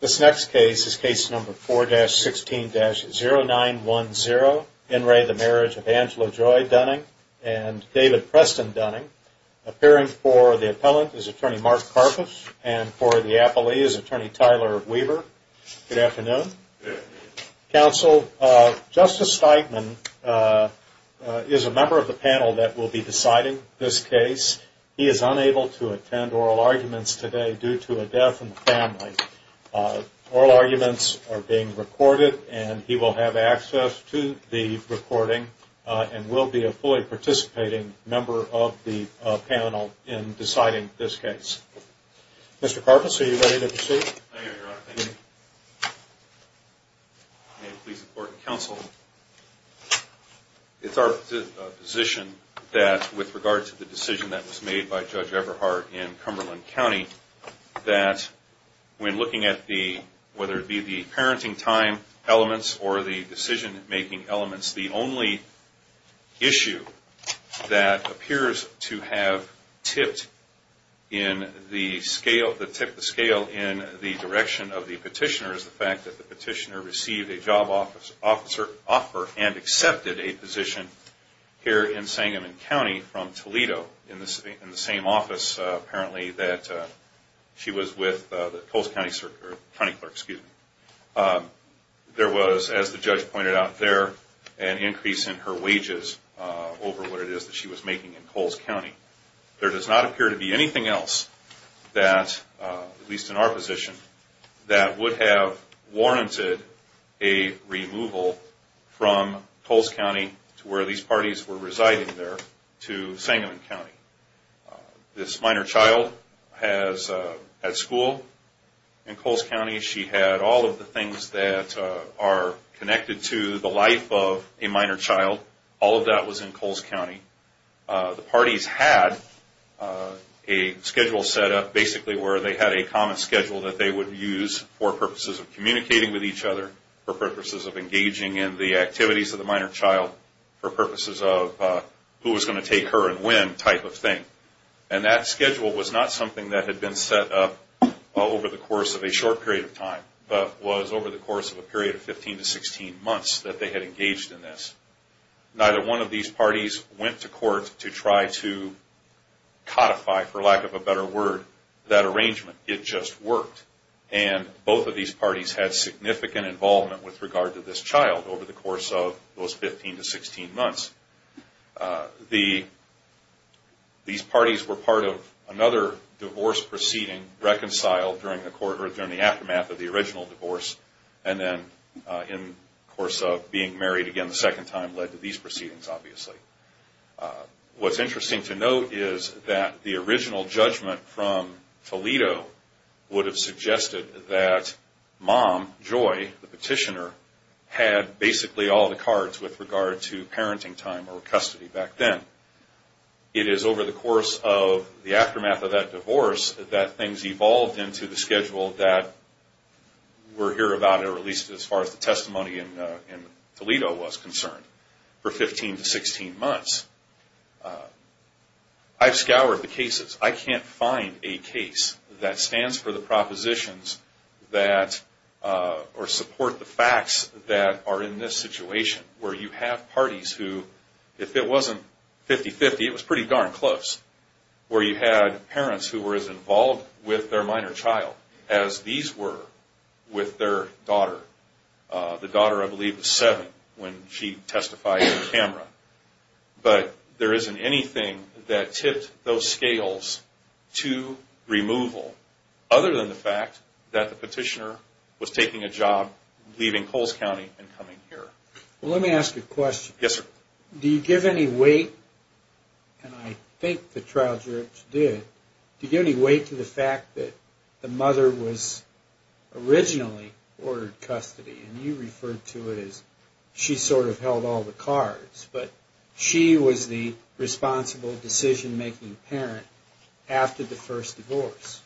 This next case is case number 4-16-0910, In re the Marriage of Angela Joy Dunning and David Preston Dunning. Appearing for the appellant is attorney Mark Karpus and for the appellee is attorney Tyler Weaver. Good afternoon. Counsel, Justice Steigman is a member of the panel that will be deciding this case. He is unable to attend oral arguments today due to a death in the family. Oral arguments are being recorded and he will have access to the recording and will be a fully participating member of the panel in deciding this case. Mr. Karpus, are you ready to proceed? I am, Your Honor. May it please the court and counsel, It is our position that with regard to the decision that was made by Judge Everhart in Cumberland County, that when looking at the, whether it be the parenting time elements or the decision making elements, the only issue that appears to have tipped the scale in the direction of the petitioner is the fact that the petitioner received a job offer and accepted a position here in Sangamon County from Toledo in the same office apparently that she was with the Coles County Clerk. There was, as the judge pointed out there, an increase in her wages over what it is that she was making in Coles County. There does not appear to be anything else that, at least in our position, that would have warranted a removal from Coles County to where these parties were residing there to Sangamon County. This minor child has had school in Coles County. She had all of the things that are connected to the life of a minor child. All of that was in Coles County. The parties had a schedule set up basically where they had a common schedule that they would use for purposes of communicating with each other, for purposes of engaging in the activities of the minor child, for purposes of who was going to take her and when type of thing. And that schedule was not something that had been set up over the course of a short period of time, but was over the course of a period of 15 to 16 months that they had engaged in this. Neither one of these parties went to court to try to codify, for lack of a better word, that arrangement. It just worked. And both of these parties had significant involvement with regard to this child over the course of those 15 to 16 months. These parties were part of another divorce proceeding reconciled during the aftermath of the original divorce and then in the course of being married again the second time led to these proceedings, obviously. What's interesting to note is that the original judgment from Toledo would have suggested that Mom, Joy, the petitioner, had basically all the cards with regard to parenting time or custody back then. It is over the course of the aftermath of that divorce that things evolved into the schedule that we're here about or at least as far as the testimony in Toledo was concerned for 15 to 16 months. I've scoured the cases. I can't find a case that stands for the propositions that or support the facts that are in this situation where you have parties who, if it wasn't 50-50, it was pretty darn close, where you had parents who were as involved with their minor child as these were with their daughter. The daughter, I believe, was seven when she testified on camera. But there isn't anything that tipped those scales to removal other than the fact that the petitioner was taking a job, leaving Coles County, and coming here. Let me ask you a question. Yes, sir. Do you give any weight, and I think the trial judge did, do you give any weight to the fact that the mother was originally ordered custody, and you referred to it as she sort of held all the cards, but she was the responsible decision-making parent after the first divorce?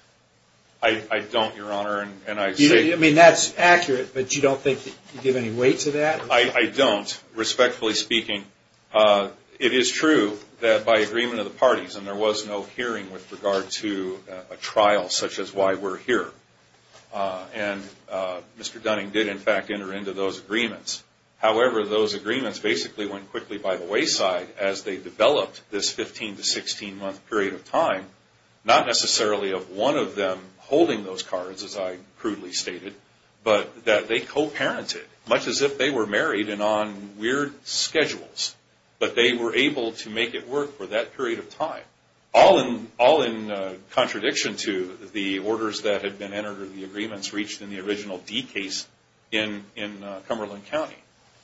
I don't, Your Honor. I mean, that's accurate, but you don't think you give any weight to that? I don't, respectfully speaking. It is true that by agreement of the parties, and there was no hearing with regard to a trial such as why we're here, and Mr. Dunning did, in fact, enter into those agreements. However, those agreements basically went quickly by the wayside as they developed this 15- to 16-month period of time, not necessarily of one of them holding those cards, as I crudely stated, but that they co-parented, much as if they were married and on weird schedules, but they were able to make it work for that period of time, all in contradiction to the orders that had been entered or the agreements reached in the original D case in Cumberland County.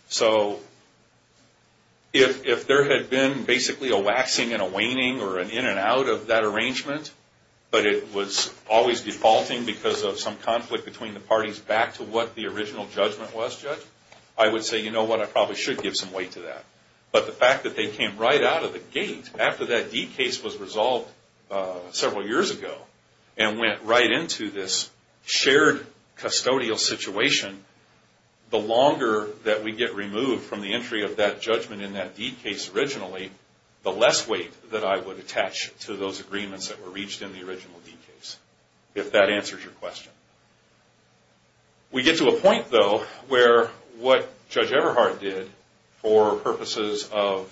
So if there had been basically a waxing and a waning or an in and out of that arrangement, but it was always defaulting because of some conflict between the parties back to what the original judgment was judged, I would say, you know what, I probably should give some weight to that. But the fact that they came right out of the gate after that D case was resolved several years ago and went right into this shared custodial situation, the longer that we get removed from the entry of that judgment in that D case originally, the less weight that I would attach to those agreements that were reached in the original D case, if that answers your question. We get to a point, though, where what Judge Everhart did for purposes of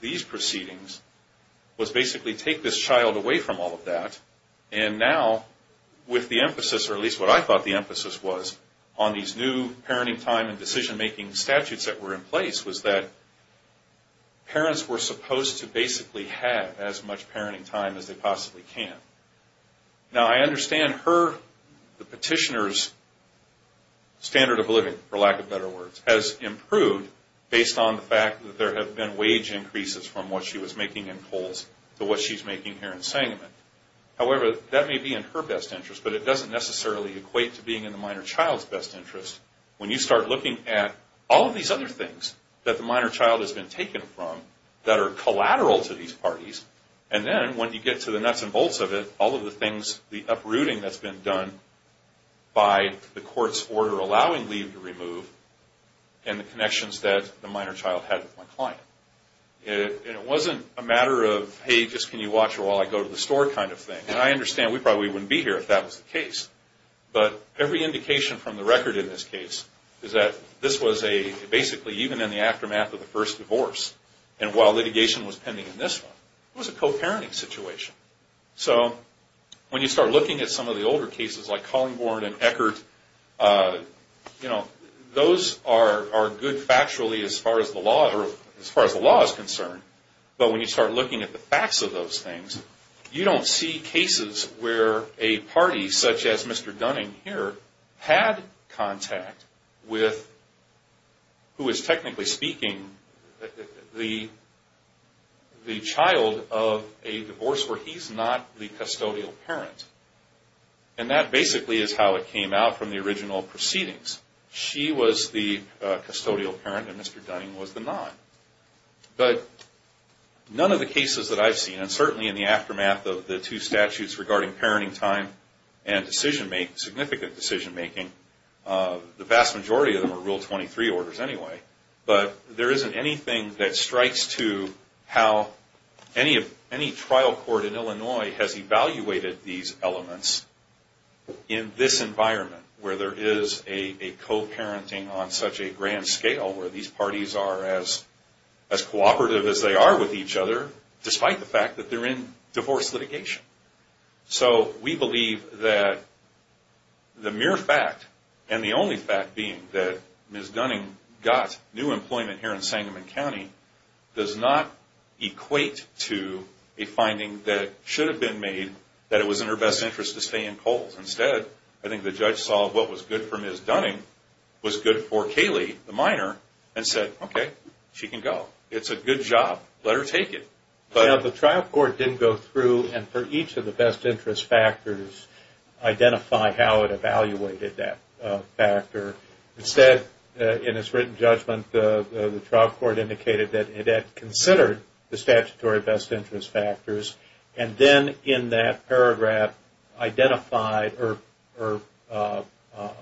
these proceedings was basically take this child away from all of that and now with the emphasis, or at least what I thought the emphasis was, on these new parenting time and decision-making statutes that were in place was that parents were supposed to basically have as much parenting time as they possibly can. Now I understand her, the petitioner's standard of living, for lack of better words, has improved based on the fact that there have been wage increases from what she was making in polls to what she's making here in Sangamon. However, that may be in her best interest, but it doesn't necessarily equate to being in the minor child's best interest when you start looking at all of these other things that the minor child has been taken from that are collateral to these parties, and then when you get to the nuts and bolts of it, all of the things, the uprooting that's been done by the court's order allowing leave to remove and the connections that the minor child had with my client. It wasn't a matter of, hey, just can you watch her while I go to the store kind of thing, and I understand we probably wouldn't be here if that was the case, but every indication from the record in this case is that this was basically even in the aftermath of the first divorce, and while litigation was pending in this one, it was a co-parenting situation. So when you start looking at some of the older cases like Collingborn and Eckert, those are good factually as far as the law is concerned, but when you start looking at the facts of those things, you don't see cases where a party such as Mr. Dunning here had contact with, who is technically speaking, the child of a divorce where he's not the custodial parent, and that basically is how it came out from the original proceedings. She was the custodial parent and Mr. Dunning was the non. But none of the cases that I've seen, and certainly in the aftermath of the two statutes regarding parenting time and significant decision-making, the vast majority of them are Rule 23 orders anyway, but there isn't anything that strikes to how any trial court in Illinois has evaluated these elements in this environment where there is a co-parenting on such a grand scale where these parties are as cooperative as they are with each other despite the fact that they're in divorce litigation. So we believe that the mere fact and the only fact being that Ms. Dunning got new employment here in Sangamon County does not equate to a finding that should have been made that it was in her best interest to stay in Coles. Instead, I think the judge saw what was good for Ms. Dunning was good for Kaylee, the minor, and said, Okay, she can go. It's a good job. Let her take it. Now, the trial court didn't go through and for each of the best interest factors identify how it evaluated that factor. Instead, in its written judgment, the trial court indicated that it had considered the statutory best interest factors and then in that paragraph identified or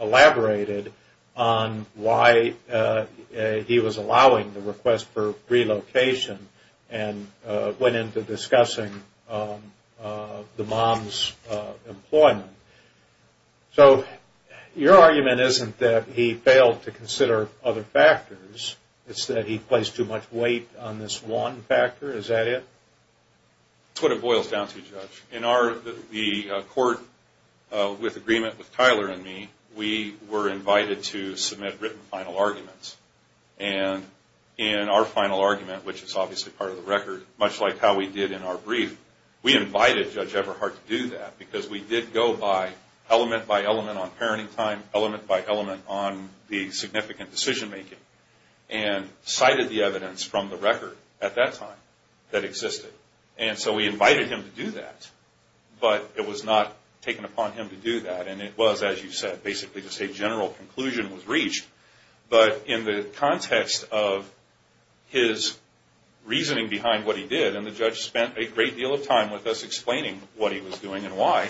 elaborated on why he was allowing the request for relocation and went into discussing the mom's employment. So your argument isn't that he failed to consider other factors. It's that he placed too much weight on this one factor. Is that it? That's what it boils down to, Judge. In the court with agreement with Tyler and me, we were invited to submit written final arguments. And in our final argument, which is obviously part of the record, much like how we did in our brief, we invited Judge Everhart to do that because we did go by element by element on parenting time, element by element on the significant decision making, and cited the evidence from the record at that time that existed. And so we invited him to do that, but it was not taken upon him to do that. And it was, as you said, basically just a general conclusion was reached. But in the context of his reasoning behind what he did, and the judge spent a great deal of time with us explaining what he was doing and why,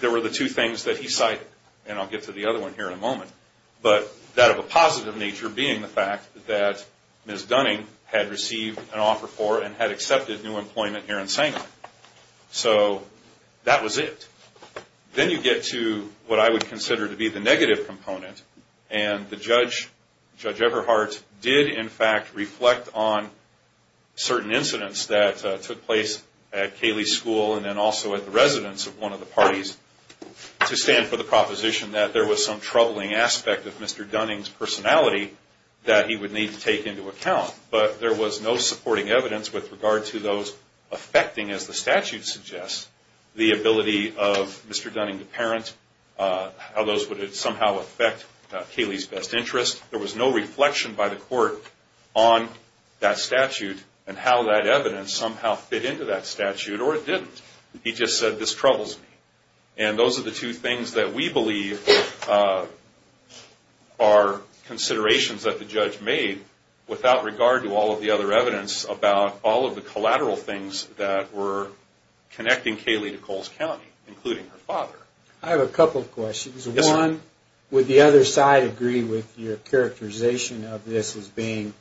there were the two things that he cited. And I'll get to the other one here in a moment. But that of a positive nature being the fact that Ms. Dunning had received an offer for and had accepted new employment here in Sangamon. So that was it. Then you get to what I would consider to be the negative component. And the judge, Judge Everhart, did in fact reflect on certain incidents that took place at Cayley School and then also at the residence of one of the parties to stand for the proposition that there was some troubling aspect of Mr. Dunning's personality that he would need to take into account. But there was no supporting evidence with regard to those affecting, as the statute suggests, the ability of Mr. Dunning to parent, how those would somehow affect Cayley's best interest. There was no reflection by the court on that statute and how that evidence somehow fit into that statute, or it didn't. He just said, this troubles me. And those are the two things that we believe are considerations that the judge made without regard to all of the other evidence about all of the collateral things that were connecting Cayley to Coles County, including her father. I have a couple of questions. One, would the other side agree with your characterization of this as being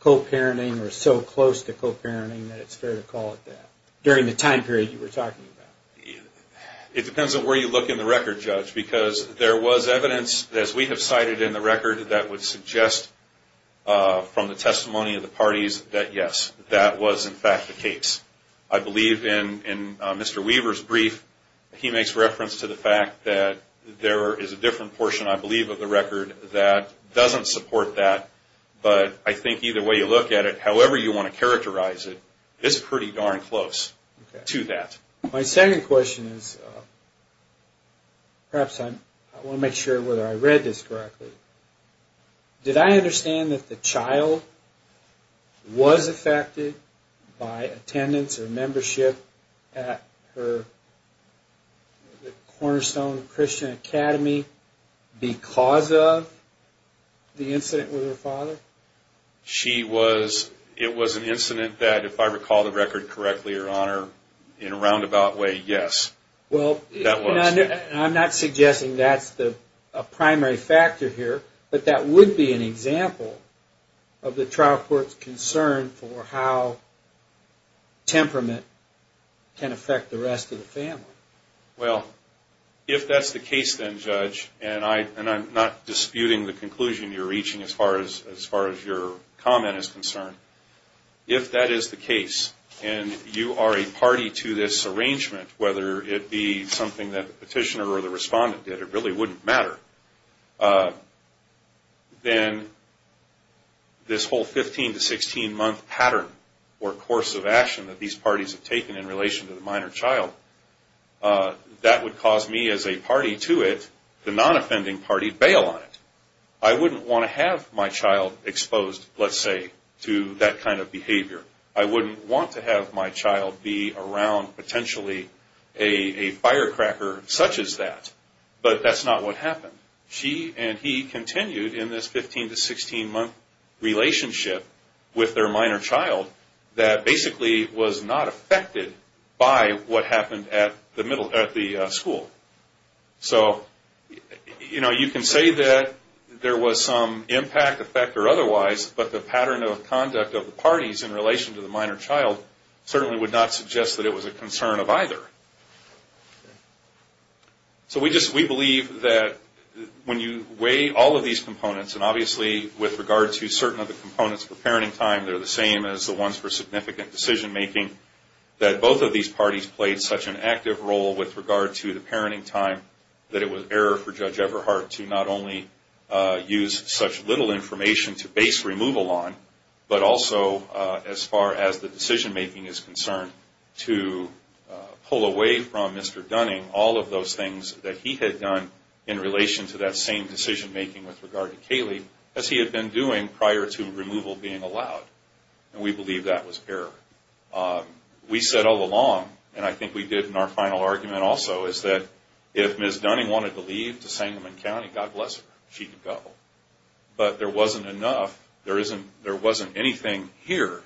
co-parenting or so close to co-parenting that it's fair to call it that, during the time period you were talking about? It depends on where you look in the record, Judge, because there was evidence, as we have cited in the record, that would suggest from the testimony of the parties that, yes, that was in fact the case. I believe in Mr. Weaver's brief, he makes reference to the fact that there is a different portion, I believe, of the record that doesn't support that. But I think either way you look at it, however you want to characterize it, it's pretty darn close to that. My second question is, perhaps I want to make sure whether I read this correctly, did I understand that the child was affected by attendance or membership at the Cornerstone Christian Academy because of the incident with her father? It was an incident that, if I recall the record correctly, Your Honor, in a roundabout way, yes, that was. I'm not suggesting that's a primary factor here, but that would be an example of the trial court's concern for how temperament can affect the rest of the family. Well, if that's the case then, Judge, and I'm not disputing the conclusion you're reaching as far as your comment is concerned, if that is the case and you are a party to this arrangement, whether it be something that the petitioner or the respondent did, it really wouldn't matter, then this whole 15 to 16 month pattern or course of action that these parties have taken in relation to the minor child, that would cause me as a party to it, the non-offending party, bail on it. I wouldn't want to have my child exposed, let's say, to that kind of behavior. I wouldn't want to have my child be around potentially a firecracker such as that. But that's not what happened. She and he continued in this 15 to 16 month relationship with their minor child that basically was not affected by what happened at the school. So you can say that there was some impact, effect, or otherwise, but the pattern of conduct of the parties in relation to the minor child certainly would not suggest that it was a concern of either. So we believe that when you weigh all of these components, and obviously with regard to certain of the components for parenting time, they're the same as the ones for significant decision-making, that both of these parties played such an active role with regard to the parenting time that it was error for Judge Everhart to not only use such little information to base removal on, but also as far as the decision-making is concerned, to pull away from Mr. Dunning all of those things that he had done in relation to that same decision-making with regard to Kaylee as he had been doing prior to removal being allowed. And we believe that was error. We said all along, and I think we did in our final argument also, is that if Ms. Dunning wanted to leave to Sangamon County, God bless her, she could go. But there wasn't enough. There wasn't anything here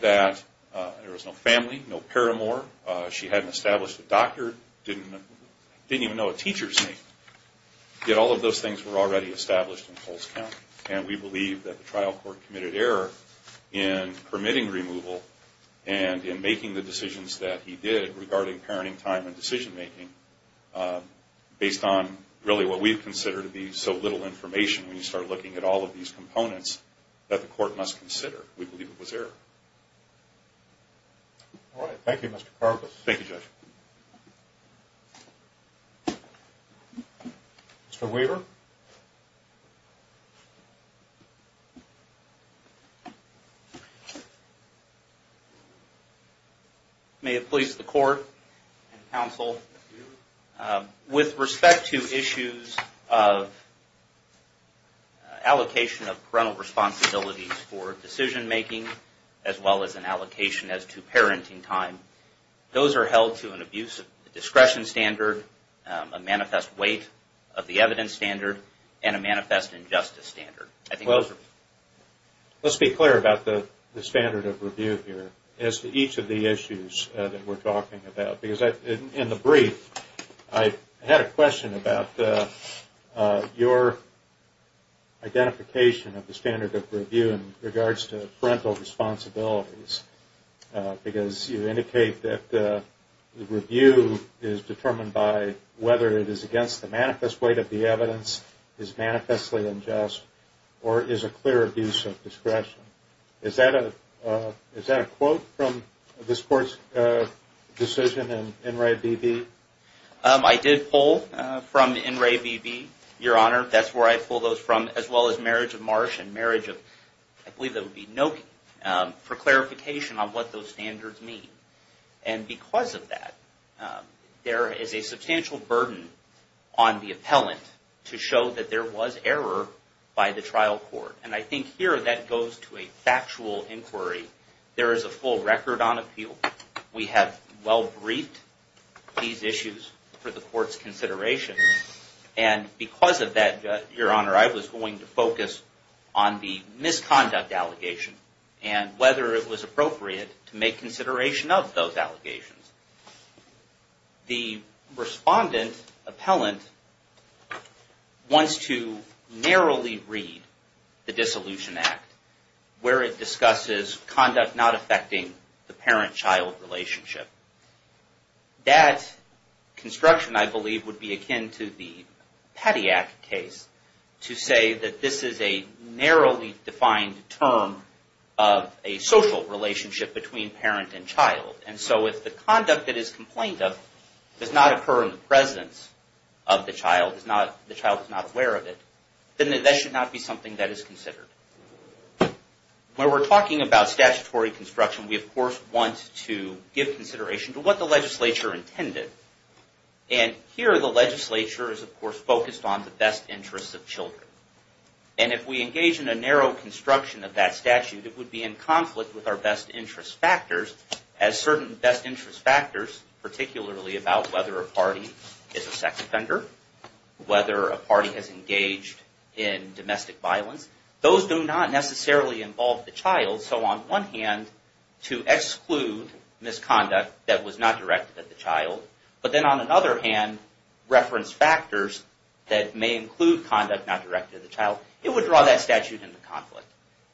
that there was no family, no paramour. She hadn't established a doctor, didn't even know a teacher's name. Yet all of those things were already established in Coles County, and we believe that the trial court committed error in permitting removal and in making the decisions that he did regarding parenting time and decision-making based on really what we consider to be so little information when you start looking at all of these components that the court must consider. We believe it was error. All right. Thank you, Mr. Karpus. Thank you, Judge. Mr. Weaver? With respect to issues of allocation of parental responsibilities for decision-making as well as an allocation as to parenting time, those are held to an abuse of discretion standard, a manifest weight of the evidence standard, and a manifest injustice standard. Let's be clear about the standard of review here as to each of the issues that we're talking about. In the brief, I had a question about your identification of the standard of review in regards to parental responsibilities, because you indicate that the review is determined by whether it is against the manifest weight of the evidence, is manifestly unjust, or is a clear abuse of discretion. Is that a quote from this Court's decision in NRA-BB? I did pull from NRA-BB, Your Honor. That's where I pulled those from, as well as Marriage of Marsh and Marriage of, I believe that would be Noki, for clarification on what those standards mean. And because of that, there is a substantial burden on the appellant to show that there was error by the trial court. And I think here that goes to a factual inquiry. There is a full record on appeal. We have well briefed these issues for the Court's consideration. And because of that, Your Honor, I was going to focus on the misconduct allegation and whether it was appropriate to make consideration of those allegations. The respondent, appellant, wants to narrowly read the Dissolution Act, where it discusses conduct not affecting the parent-child relationship. That construction, I believe, would be akin to the Petty Act case to say that this is a narrowly defined term of a social relationship between parent and child. And so if the conduct that is complained of does not occur in the presence of the child, the child is not aware of it, then that should not be something that is considered. When we're talking about statutory construction, we of course want to give consideration to what the legislature intended. And here the legislature is of course focused on the best interests of children. And if we engage in a narrow construction of that statute, it would be in conflict with our best interest factors, as certain best interest factors, particularly about whether a party is a sex offender, whether a party has engaged in domestic violence, those do not necessarily involve the child. So on one hand, to exclude misconduct that was not directed at the child, but then on another hand, reference factors that may include conduct not directed at the child, it would draw that statute into conflict.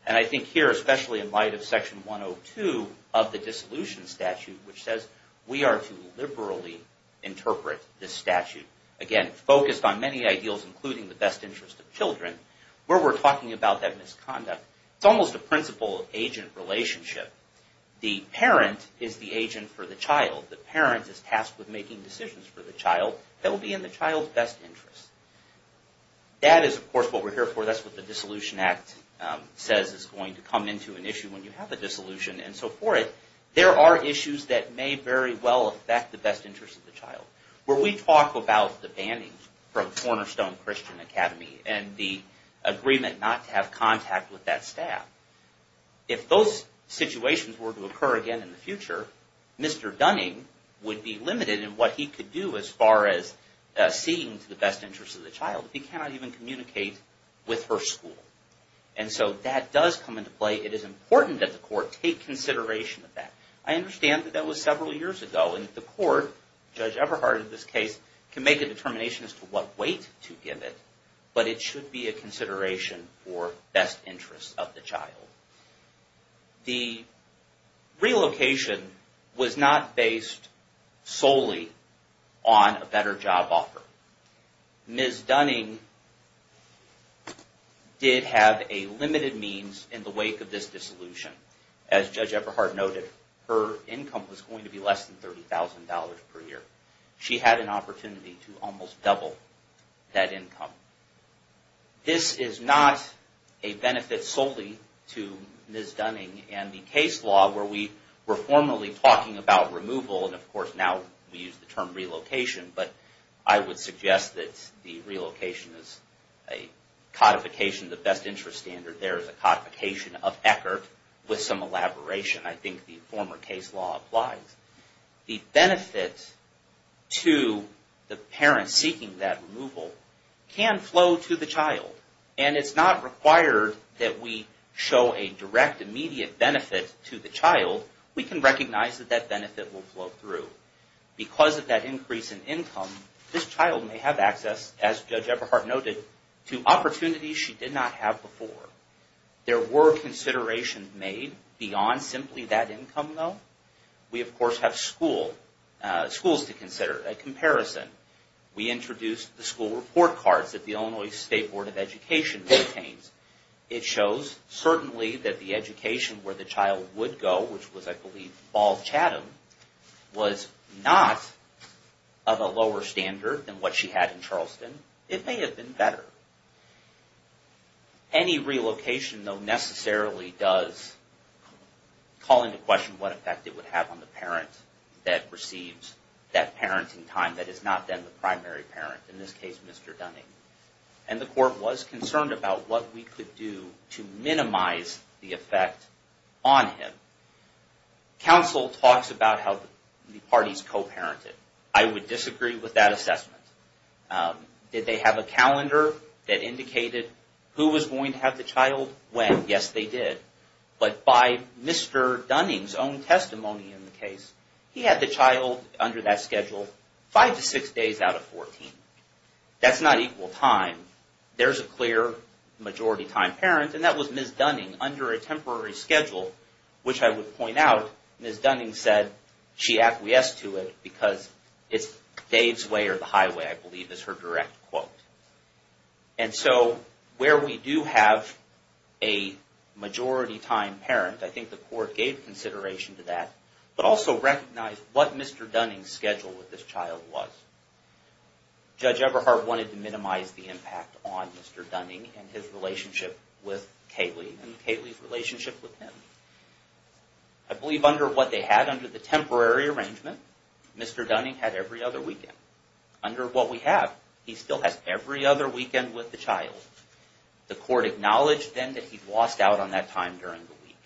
And I think here, especially in light of Section 102 of the Dissolution Statute, which says we are to liberally interpret this statute, again, focused on many ideals including the best interest of children, where we're talking about that misconduct, it's almost a principal-agent relationship. The parent is the agent for the child. The parent is tasked with making decisions for the child that will be in the child's best interest. That is, of course, what we're here for. That's what the Dissolution Act says is going to come into an issue when you have a dissolution. And so for it, there are issues that may very well affect the best interest of the child. Where we talk about the banning from Cornerstone Christian Academy and the agreement not to have contact with that staff, if those situations were to occur again in the future, Mr. Dunning would be limited in what he could do as far as seeking to the best interest of the child. He cannot even communicate with her school. And so that does come into play. It is important that the court take consideration of that. I understand that that was several years ago. And the court, Judge Everhart in this case, can make a determination as to what weight to give it. But it should be a consideration for best interest of the child. The relocation was not based solely on a better job offer. Ms. Dunning did have a limited means in the wake of this dissolution. As Judge Everhart noted, her income was going to be less than $30,000 per year. She had an opportunity to almost double that income. This is not a benefit solely to Ms. Dunning and the case law where we were formally talking about removal. And of course now we use the term relocation. But I would suggest that the relocation is a codification of the best interest standard. There is a codification of Eckert with some elaboration. I think the former case law applies. The benefit to the parent seeking that removal can flow to the child. And it's not required that we show a direct immediate benefit to the child. We can recognize that that benefit will flow through. Because of that increase in income, this child may have access, as Judge Everhart noted, to opportunities she did not have before. There were considerations made beyond simply that income though. We of course have schools to consider, a comparison. We introduced the school report cards that the Illinois State Board of Education maintains. It shows certainly that the education where the child would go, which was I believe Ball Chatham, was not of a lower standard than what she had in Charleston. It may have been better. Any relocation though necessarily does call into question what effect it would have on the parent that receives that parenting time that is not then the primary parent, in this case Mr. Dunning. And the court was concerned about what we could do to minimize the effect on him. Counsel talks about how the parties co-parented. I would disagree with that assessment. Did they have a calendar that indicated who was going to have the child when? Yes, they did. But by Mr. Dunning's own testimony in the case, he had the child under that schedule five to six days out of 14. That's not equal time. There's a clear majority time parent, and that was Ms. Dunning, under a temporary schedule, which I would point out, Ms. Dunning said she acquiesced to it because it's Dave's way or the highway, I believe is her direct quote. And so where we do have a majority time parent, I think the court gave consideration to that, but also recognized what Mr. Dunning's schedule with this child was. Judge Everhart wanted to minimize the impact on Mr. Dunning and his relationship with Kaylee and Kaylee's relationship with him. I believe under what they had under the temporary arrangement, Mr. Dunning had every other weekend. Under what we have, he still has every other weekend with the child. The court acknowledged then that he'd lost out on that time during the week.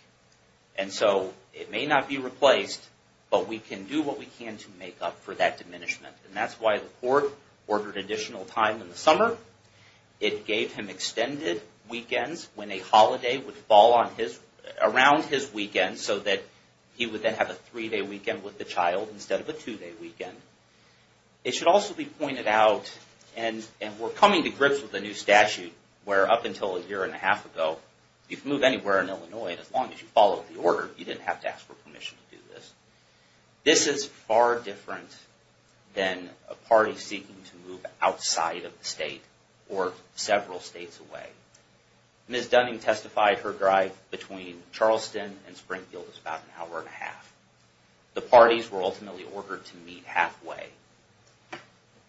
And so it may not be replaced, but we can do what we can to make up for that diminishment, and that's why the court ordered additional time in the summer. It gave him extended weekends when a holiday would fall around his weekend, so that he would then have a three-day weekend with the child instead of a two-day weekend. It should also be pointed out, and we're coming to grips with a new statute, where up until a year and a half ago, you could move anywhere in Illinois as long as you followed the order. You didn't have to ask for permission to do this. This is far different than a party seeking to move outside of the state or several states away. Ms. Dunning testified her drive between Charleston and Springfield was about an hour and a half. The parties were ultimately ordered to meet halfway.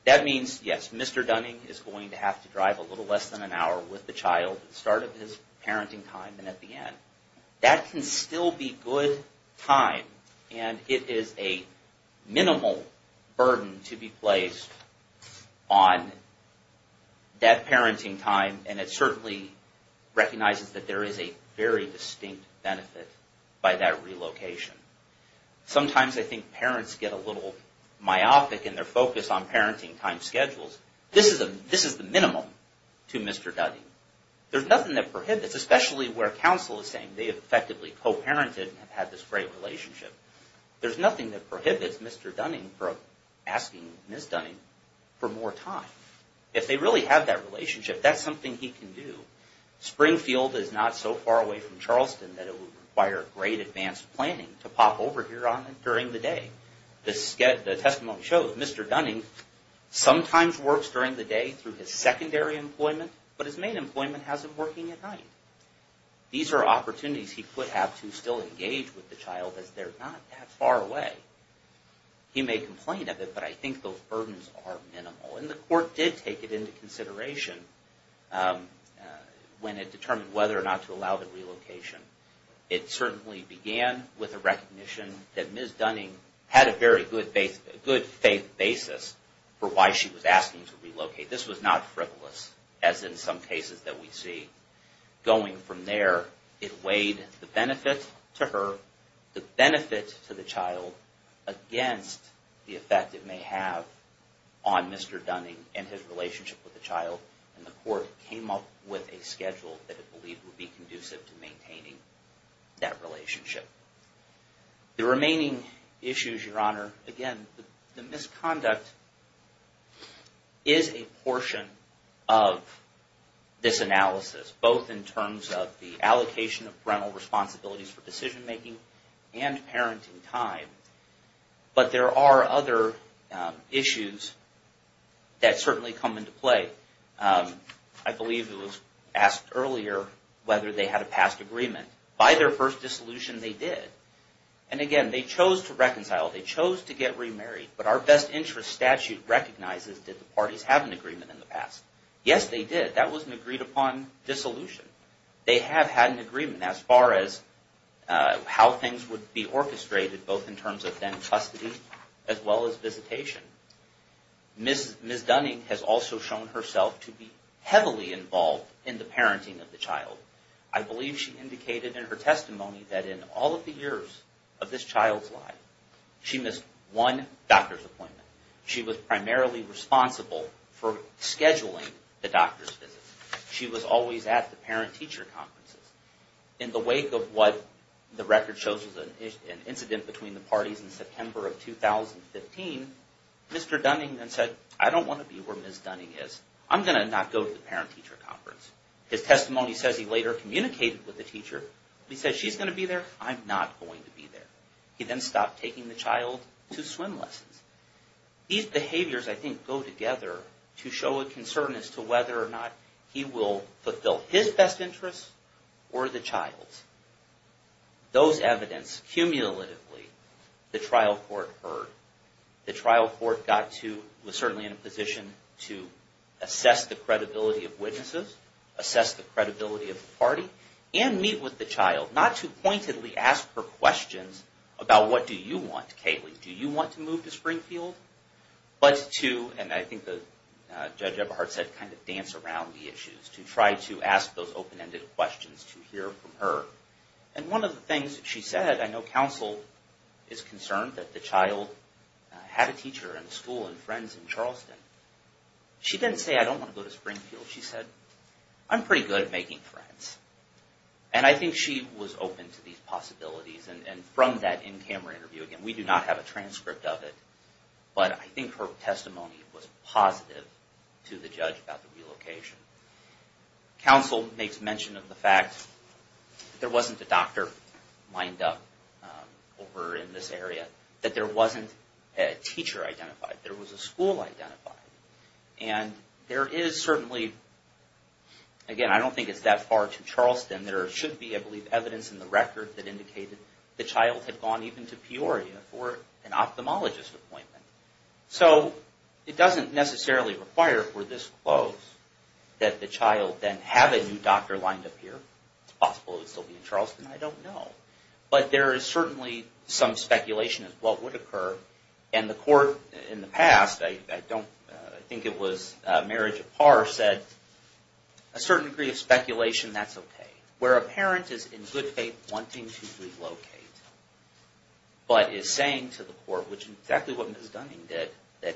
That means, yes, Mr. Dunning is going to have to drive a little less than an hour with the child at the start of his parenting time and at the end. That can still be good time, and it is a minimal burden to be placed on that parenting time, and it certainly recognizes that there is a very distinct benefit by that relocation. Sometimes I think parents get a little myopic in their focus on parenting time schedules. This is the minimum to Mr. Dunning. There's nothing that prohibits, especially where counsel is saying they have effectively co-parented and have had this great relationship. There's nothing that prohibits Mr. Dunning from asking Ms. Dunning for more time. If they really have that relationship, that's something he can do. Springfield is not so far away from Charleston that it would require great advanced planning to pop over here during the day. The testimony shows Mr. Dunning sometimes works during the day through his secondary employment, but his main employment has him working at night. These are opportunities he could have to still engage with the child as they're not that far away. He may complain of it, but I think those burdens are minimal. And the court did take it into consideration when it determined whether or not to allow the relocation. It certainly began with a recognition that Ms. Dunning had a very good faith basis for why she was asking to relocate. This was not frivolous, as in some cases that we see. Going from there, it weighed the benefit to her, the benefit to the child, against the effect it may have on Mr. Dunning and his relationship with the child. And the court came up with a schedule that it believed would be conducive to maintaining that relationship. The remaining issues, Your Honor, again, the misconduct is a portion of this analysis, both in terms of the allocation of parental responsibilities for decision-making and parenting time. But there are other issues that certainly come into play. I believe it was asked earlier whether they had a past agreement. By their first dissolution, they did. And again, they chose to reconcile. They chose to get remarried. But our best interest statute recognizes, did the parties have an agreement in the past? Yes, they did. That was an agreed-upon dissolution. They have had an agreement as far as how things would be orchestrated, both in terms of then custody as well as visitation. Ms. Dunning has also shown herself to be heavily involved in the parenting of the child. I believe she indicated in her testimony that in all of the years of this child's life, she missed one doctor's appointment. She was primarily responsible for scheduling the doctor's visits. She was always at the parent-teacher conferences. In the wake of what the record shows as an incident between the parties in September of 2015, Mr. Dunning then said, I don't want to be where Ms. Dunning is. I'm going to not go to the parent-teacher conference. His testimony says he later communicated with the teacher. He said, she's going to be there. I'm not going to be there. He then stopped taking the child to swim lessons. These behaviors, I think, go together to show a concern as to whether or not he will fulfill his best interests or the child's. Those evidence, cumulatively, the trial court heard. The trial court was certainly in a position to assess the credibility of witnesses, assess the credibility of the party, and meet with the child, not to pointedly ask her questions about what do you want, Kaylee. Do you want to move to Springfield? But to, and I think Judge Eberhardt said, kind of dance around the issues, to try to ask those open-ended questions to hear from her. One of the things that she said, I know counsel is concerned that the child had a teacher and a school and friends in Charleston. She didn't say, I don't want to go to Springfield. She said, I'm pretty good at making friends. I think she was open to these possibilities. From that in-camera interview, again, we do not have a transcript of it, but I think her testimony was positive to the judge about the relocation. Counsel makes mention of the fact there wasn't a doctor lined up over in this area, that there wasn't a teacher identified. There was a school identified. And there is certainly, again, I don't think it's that far to Charleston. There should be, I believe, evidence in the record that indicated the child had gone even to Peoria for an ophthalmologist appointment. So it doesn't necessarily require, for this close, that the child then have a new doctor lined up here. It's possible it would still be in Charleston. I don't know. But there is certainly some speculation as to what would occur. And the court in the past, I think it was Marriage of Parr, said a certain degree of speculation, that's okay. Where a parent is in good faith wanting to relocate, but is saying to the court, which is exactly what Ms. Dunning did, that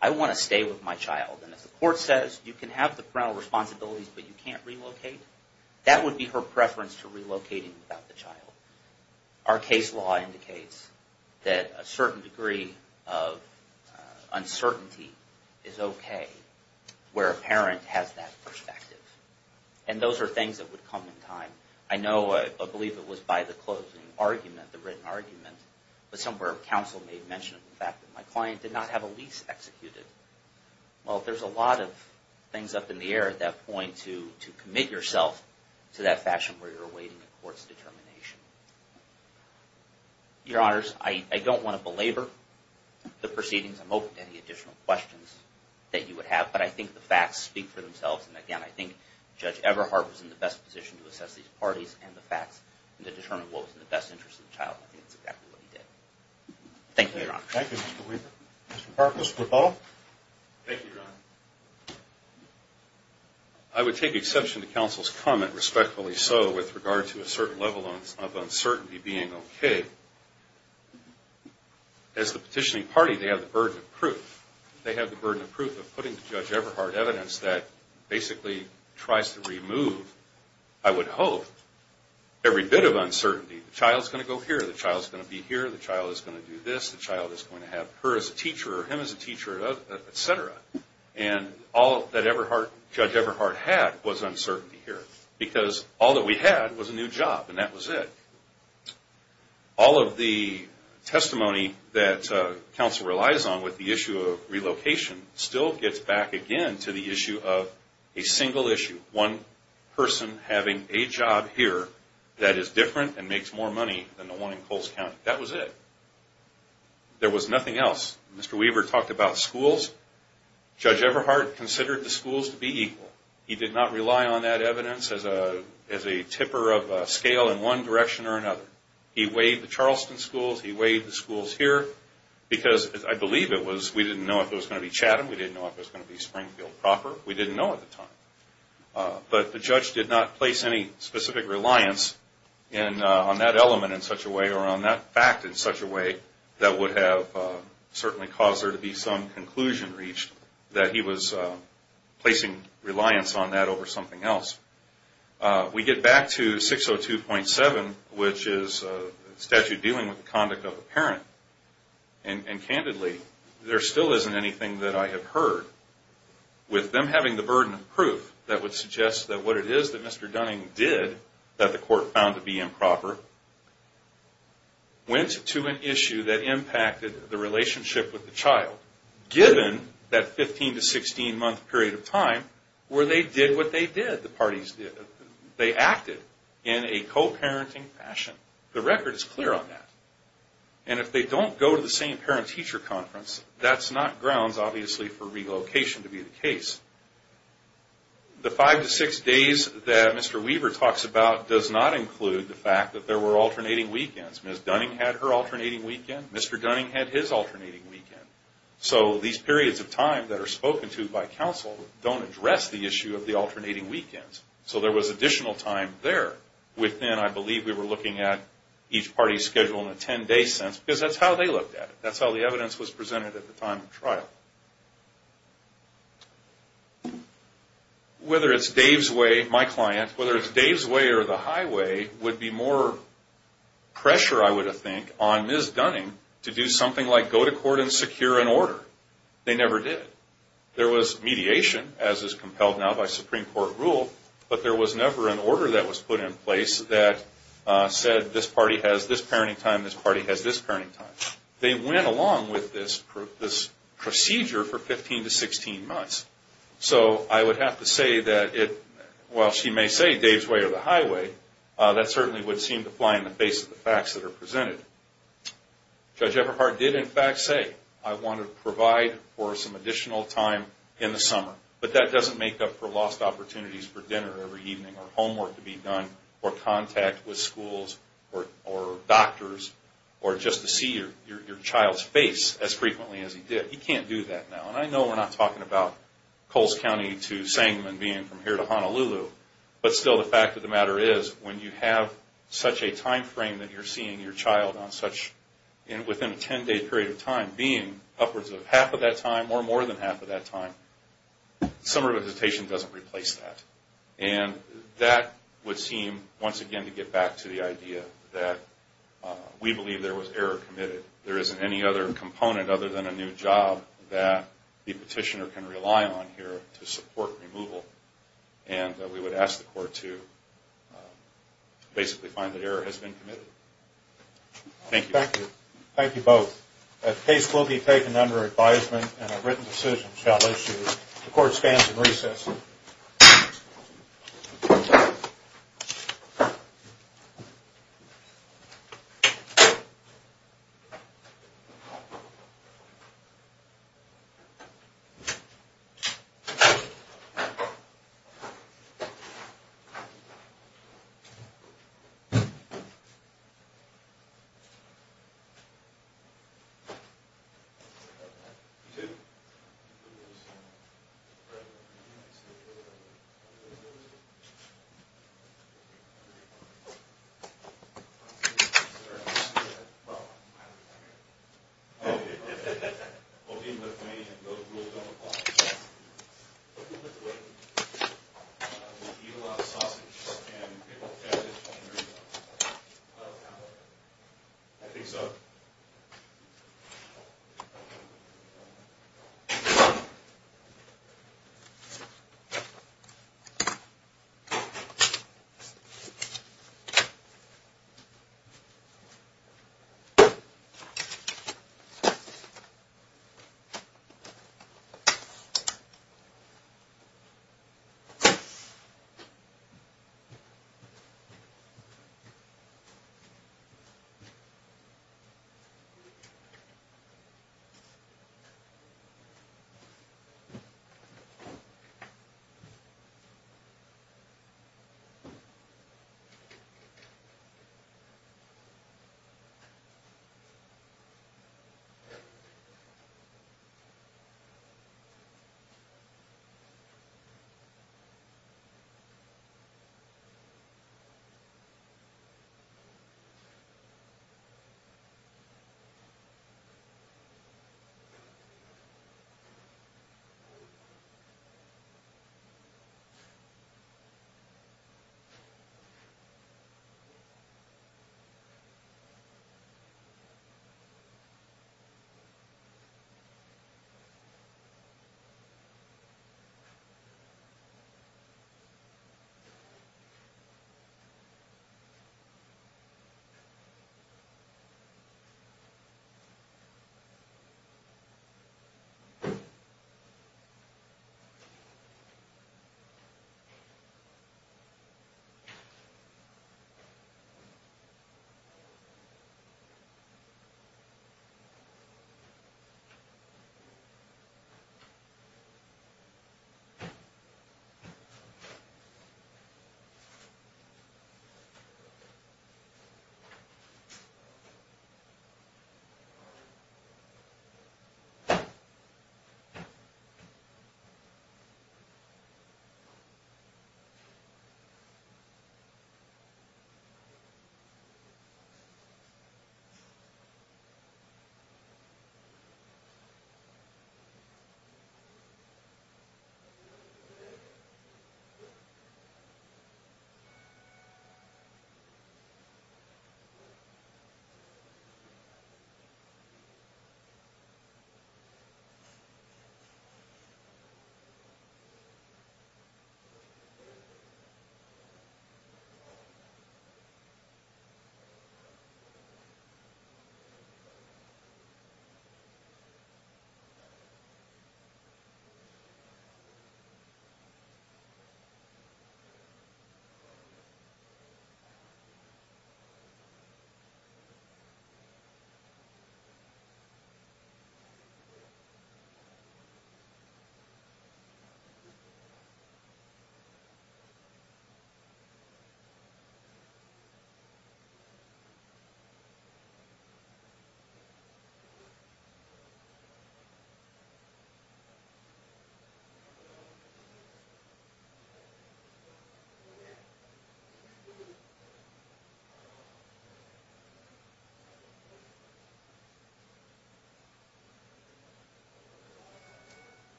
I want to stay with my child. And if the court says you can have the parental responsibilities, but you can't relocate, that would be her preference to relocating without the child. Our case law indicates that a certain degree of uncertainty is okay where a parent has that perspective. And those are things that would come in time. I know, I believe it was by the closing argument, the written argument, but somewhere counsel made mention of the fact that my client did not have a lease executed. Well, there's a lot of things up in the air at that point to commit yourself to that fashion where you're awaiting a court's determination. Your Honors, I don't want to belabor the proceedings. I'm open to any additional questions that you would have. But I think the facts speak for themselves. And again, I think Judge Everhart was in the best position to assess these parties and the facts and to determine what was in the best interest of the child. I think that's exactly what he did. Thank you, Your Honors. Thank you, Mr. Weaver. Mr. Park, Mr. DePaul. Thank you, Your Honor. I would take exception to counsel's comment, respectfully so, with regard to a certain level of uncertainty being okay. As the petitioning party, they have the burden of proof. They have the burden of proof of putting to Judge Everhart evidence that basically tries to remove, I would hope, every bit of uncertainty. The child's going to go here. The child's going to be here. The child is going to do this. The child is going to have her as a teacher or him as a teacher, et cetera. And all that Judge Everhart had was uncertainty here because all that we had was a new job, and that was it. All of the testimony that counsel relies on with the issue of relocation still gets back again to the issue of a single issue, one person having a job here that is different and makes more money than the one in Coles County. That was it. There was nothing else. Mr. Weaver talked about schools. Judge Everhart considered the schools to be equal. He did not rely on that evidence as a tipper of scale in one direction or another. He weighed the Charleston schools. He weighed the schools here because I believe it was we didn't know if it was going to be Chatham. We didn't know if it was going to be Springfield proper. We didn't know at the time. But the judge did not place any specific reliance on that element in such a way or on that fact in such a way that would have certainly caused there to be some conclusion reached that he was placing reliance on that over something else. We get back to 602.7, which is a statute dealing with the conduct of a parent, and candidly there still isn't anything that I have heard with them having the burden of proof that would suggest that what it is that Mr. Dunning did that the court found to be improper went to an issue that impacted the relationship with the child given that 15 to 16 month period of time where they did what they did. The parties did. They acted in a co-parenting fashion. The record is clear on that. And if they don't go to the same parent-teacher conference, that's not grounds obviously for relocation to be the case. The five to six days that Mr. Weaver talks about does not include the fact that there were alternating weekends. Ms. Dunning had her alternating weekend. Mr. Dunning had his alternating weekend. So these periods of time that are spoken to by counsel don't address the issue of the alternating weekends. So there was additional time there within, I believe, we were looking at each party's schedule in a ten-day sense because that's how they looked at it. That's how the evidence was presented at the time of trial. Whether it's Dave's way, my client, whether it's Dave's way or the highway, would be more pressure, I would think, on Ms. Dunning to do something like go to court and secure an order. They never did. There was mediation, as is compelled now by Supreme Court rule, but there was never an order that was put in place that said this party has this parenting time, this party has this parenting time. They went along with this procedure for 15 to 16 months. So I would have to say that it, while she may say Dave's way or the highway, that certainly would seem to fly in the face of the facts that are presented. Judge Everhart did, in fact, say, I want to provide for some additional time in the summer, but that doesn't make up for lost opportunities for dinner every evening or homework to be done or contact with schools or doctors or just to see your child's face as frequently as he did. He can't do that now. And I know we're not talking about Coles County to Sangamon being from here to Honolulu, but still the fact of the matter is, when you have such a time frame that you're seeing your child on such, within a 10-day period of time, being upwards of half of that time or more than half of that time, summer visitation doesn't replace that. And that would seem, once again, to get back to the idea that we believe there was error committed. There isn't any other component other than a new job that the petitioner can rely on here to support removal. And we would ask the court to basically find that error has been committed. Thank you. Thank you. Thank you both. The case will be taken under advisement and a written decision shall issue. The court stands in recess. Thank you. We eat a lot of sausage, and it will affect his hunger. I think so.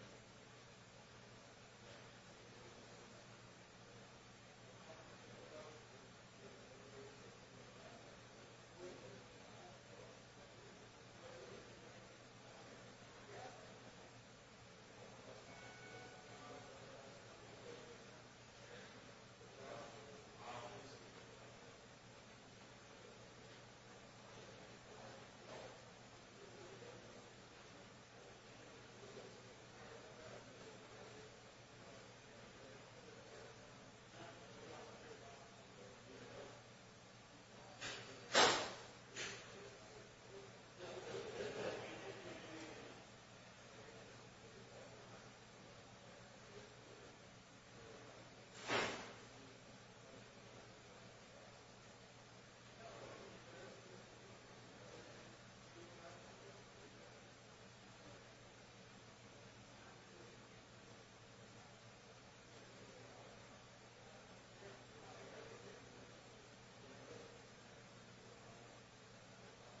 Thank you. Thank you. Thank you. Thank you. Thank you. Thank you. Thank you. Thank you. Thank you. Thank you. Thank you. Thank you. Thank you. Thank you. Thank you. You're welcome. Thank you. Thank you. Thank you. Thank you. Thank you. Thank you. Thank you.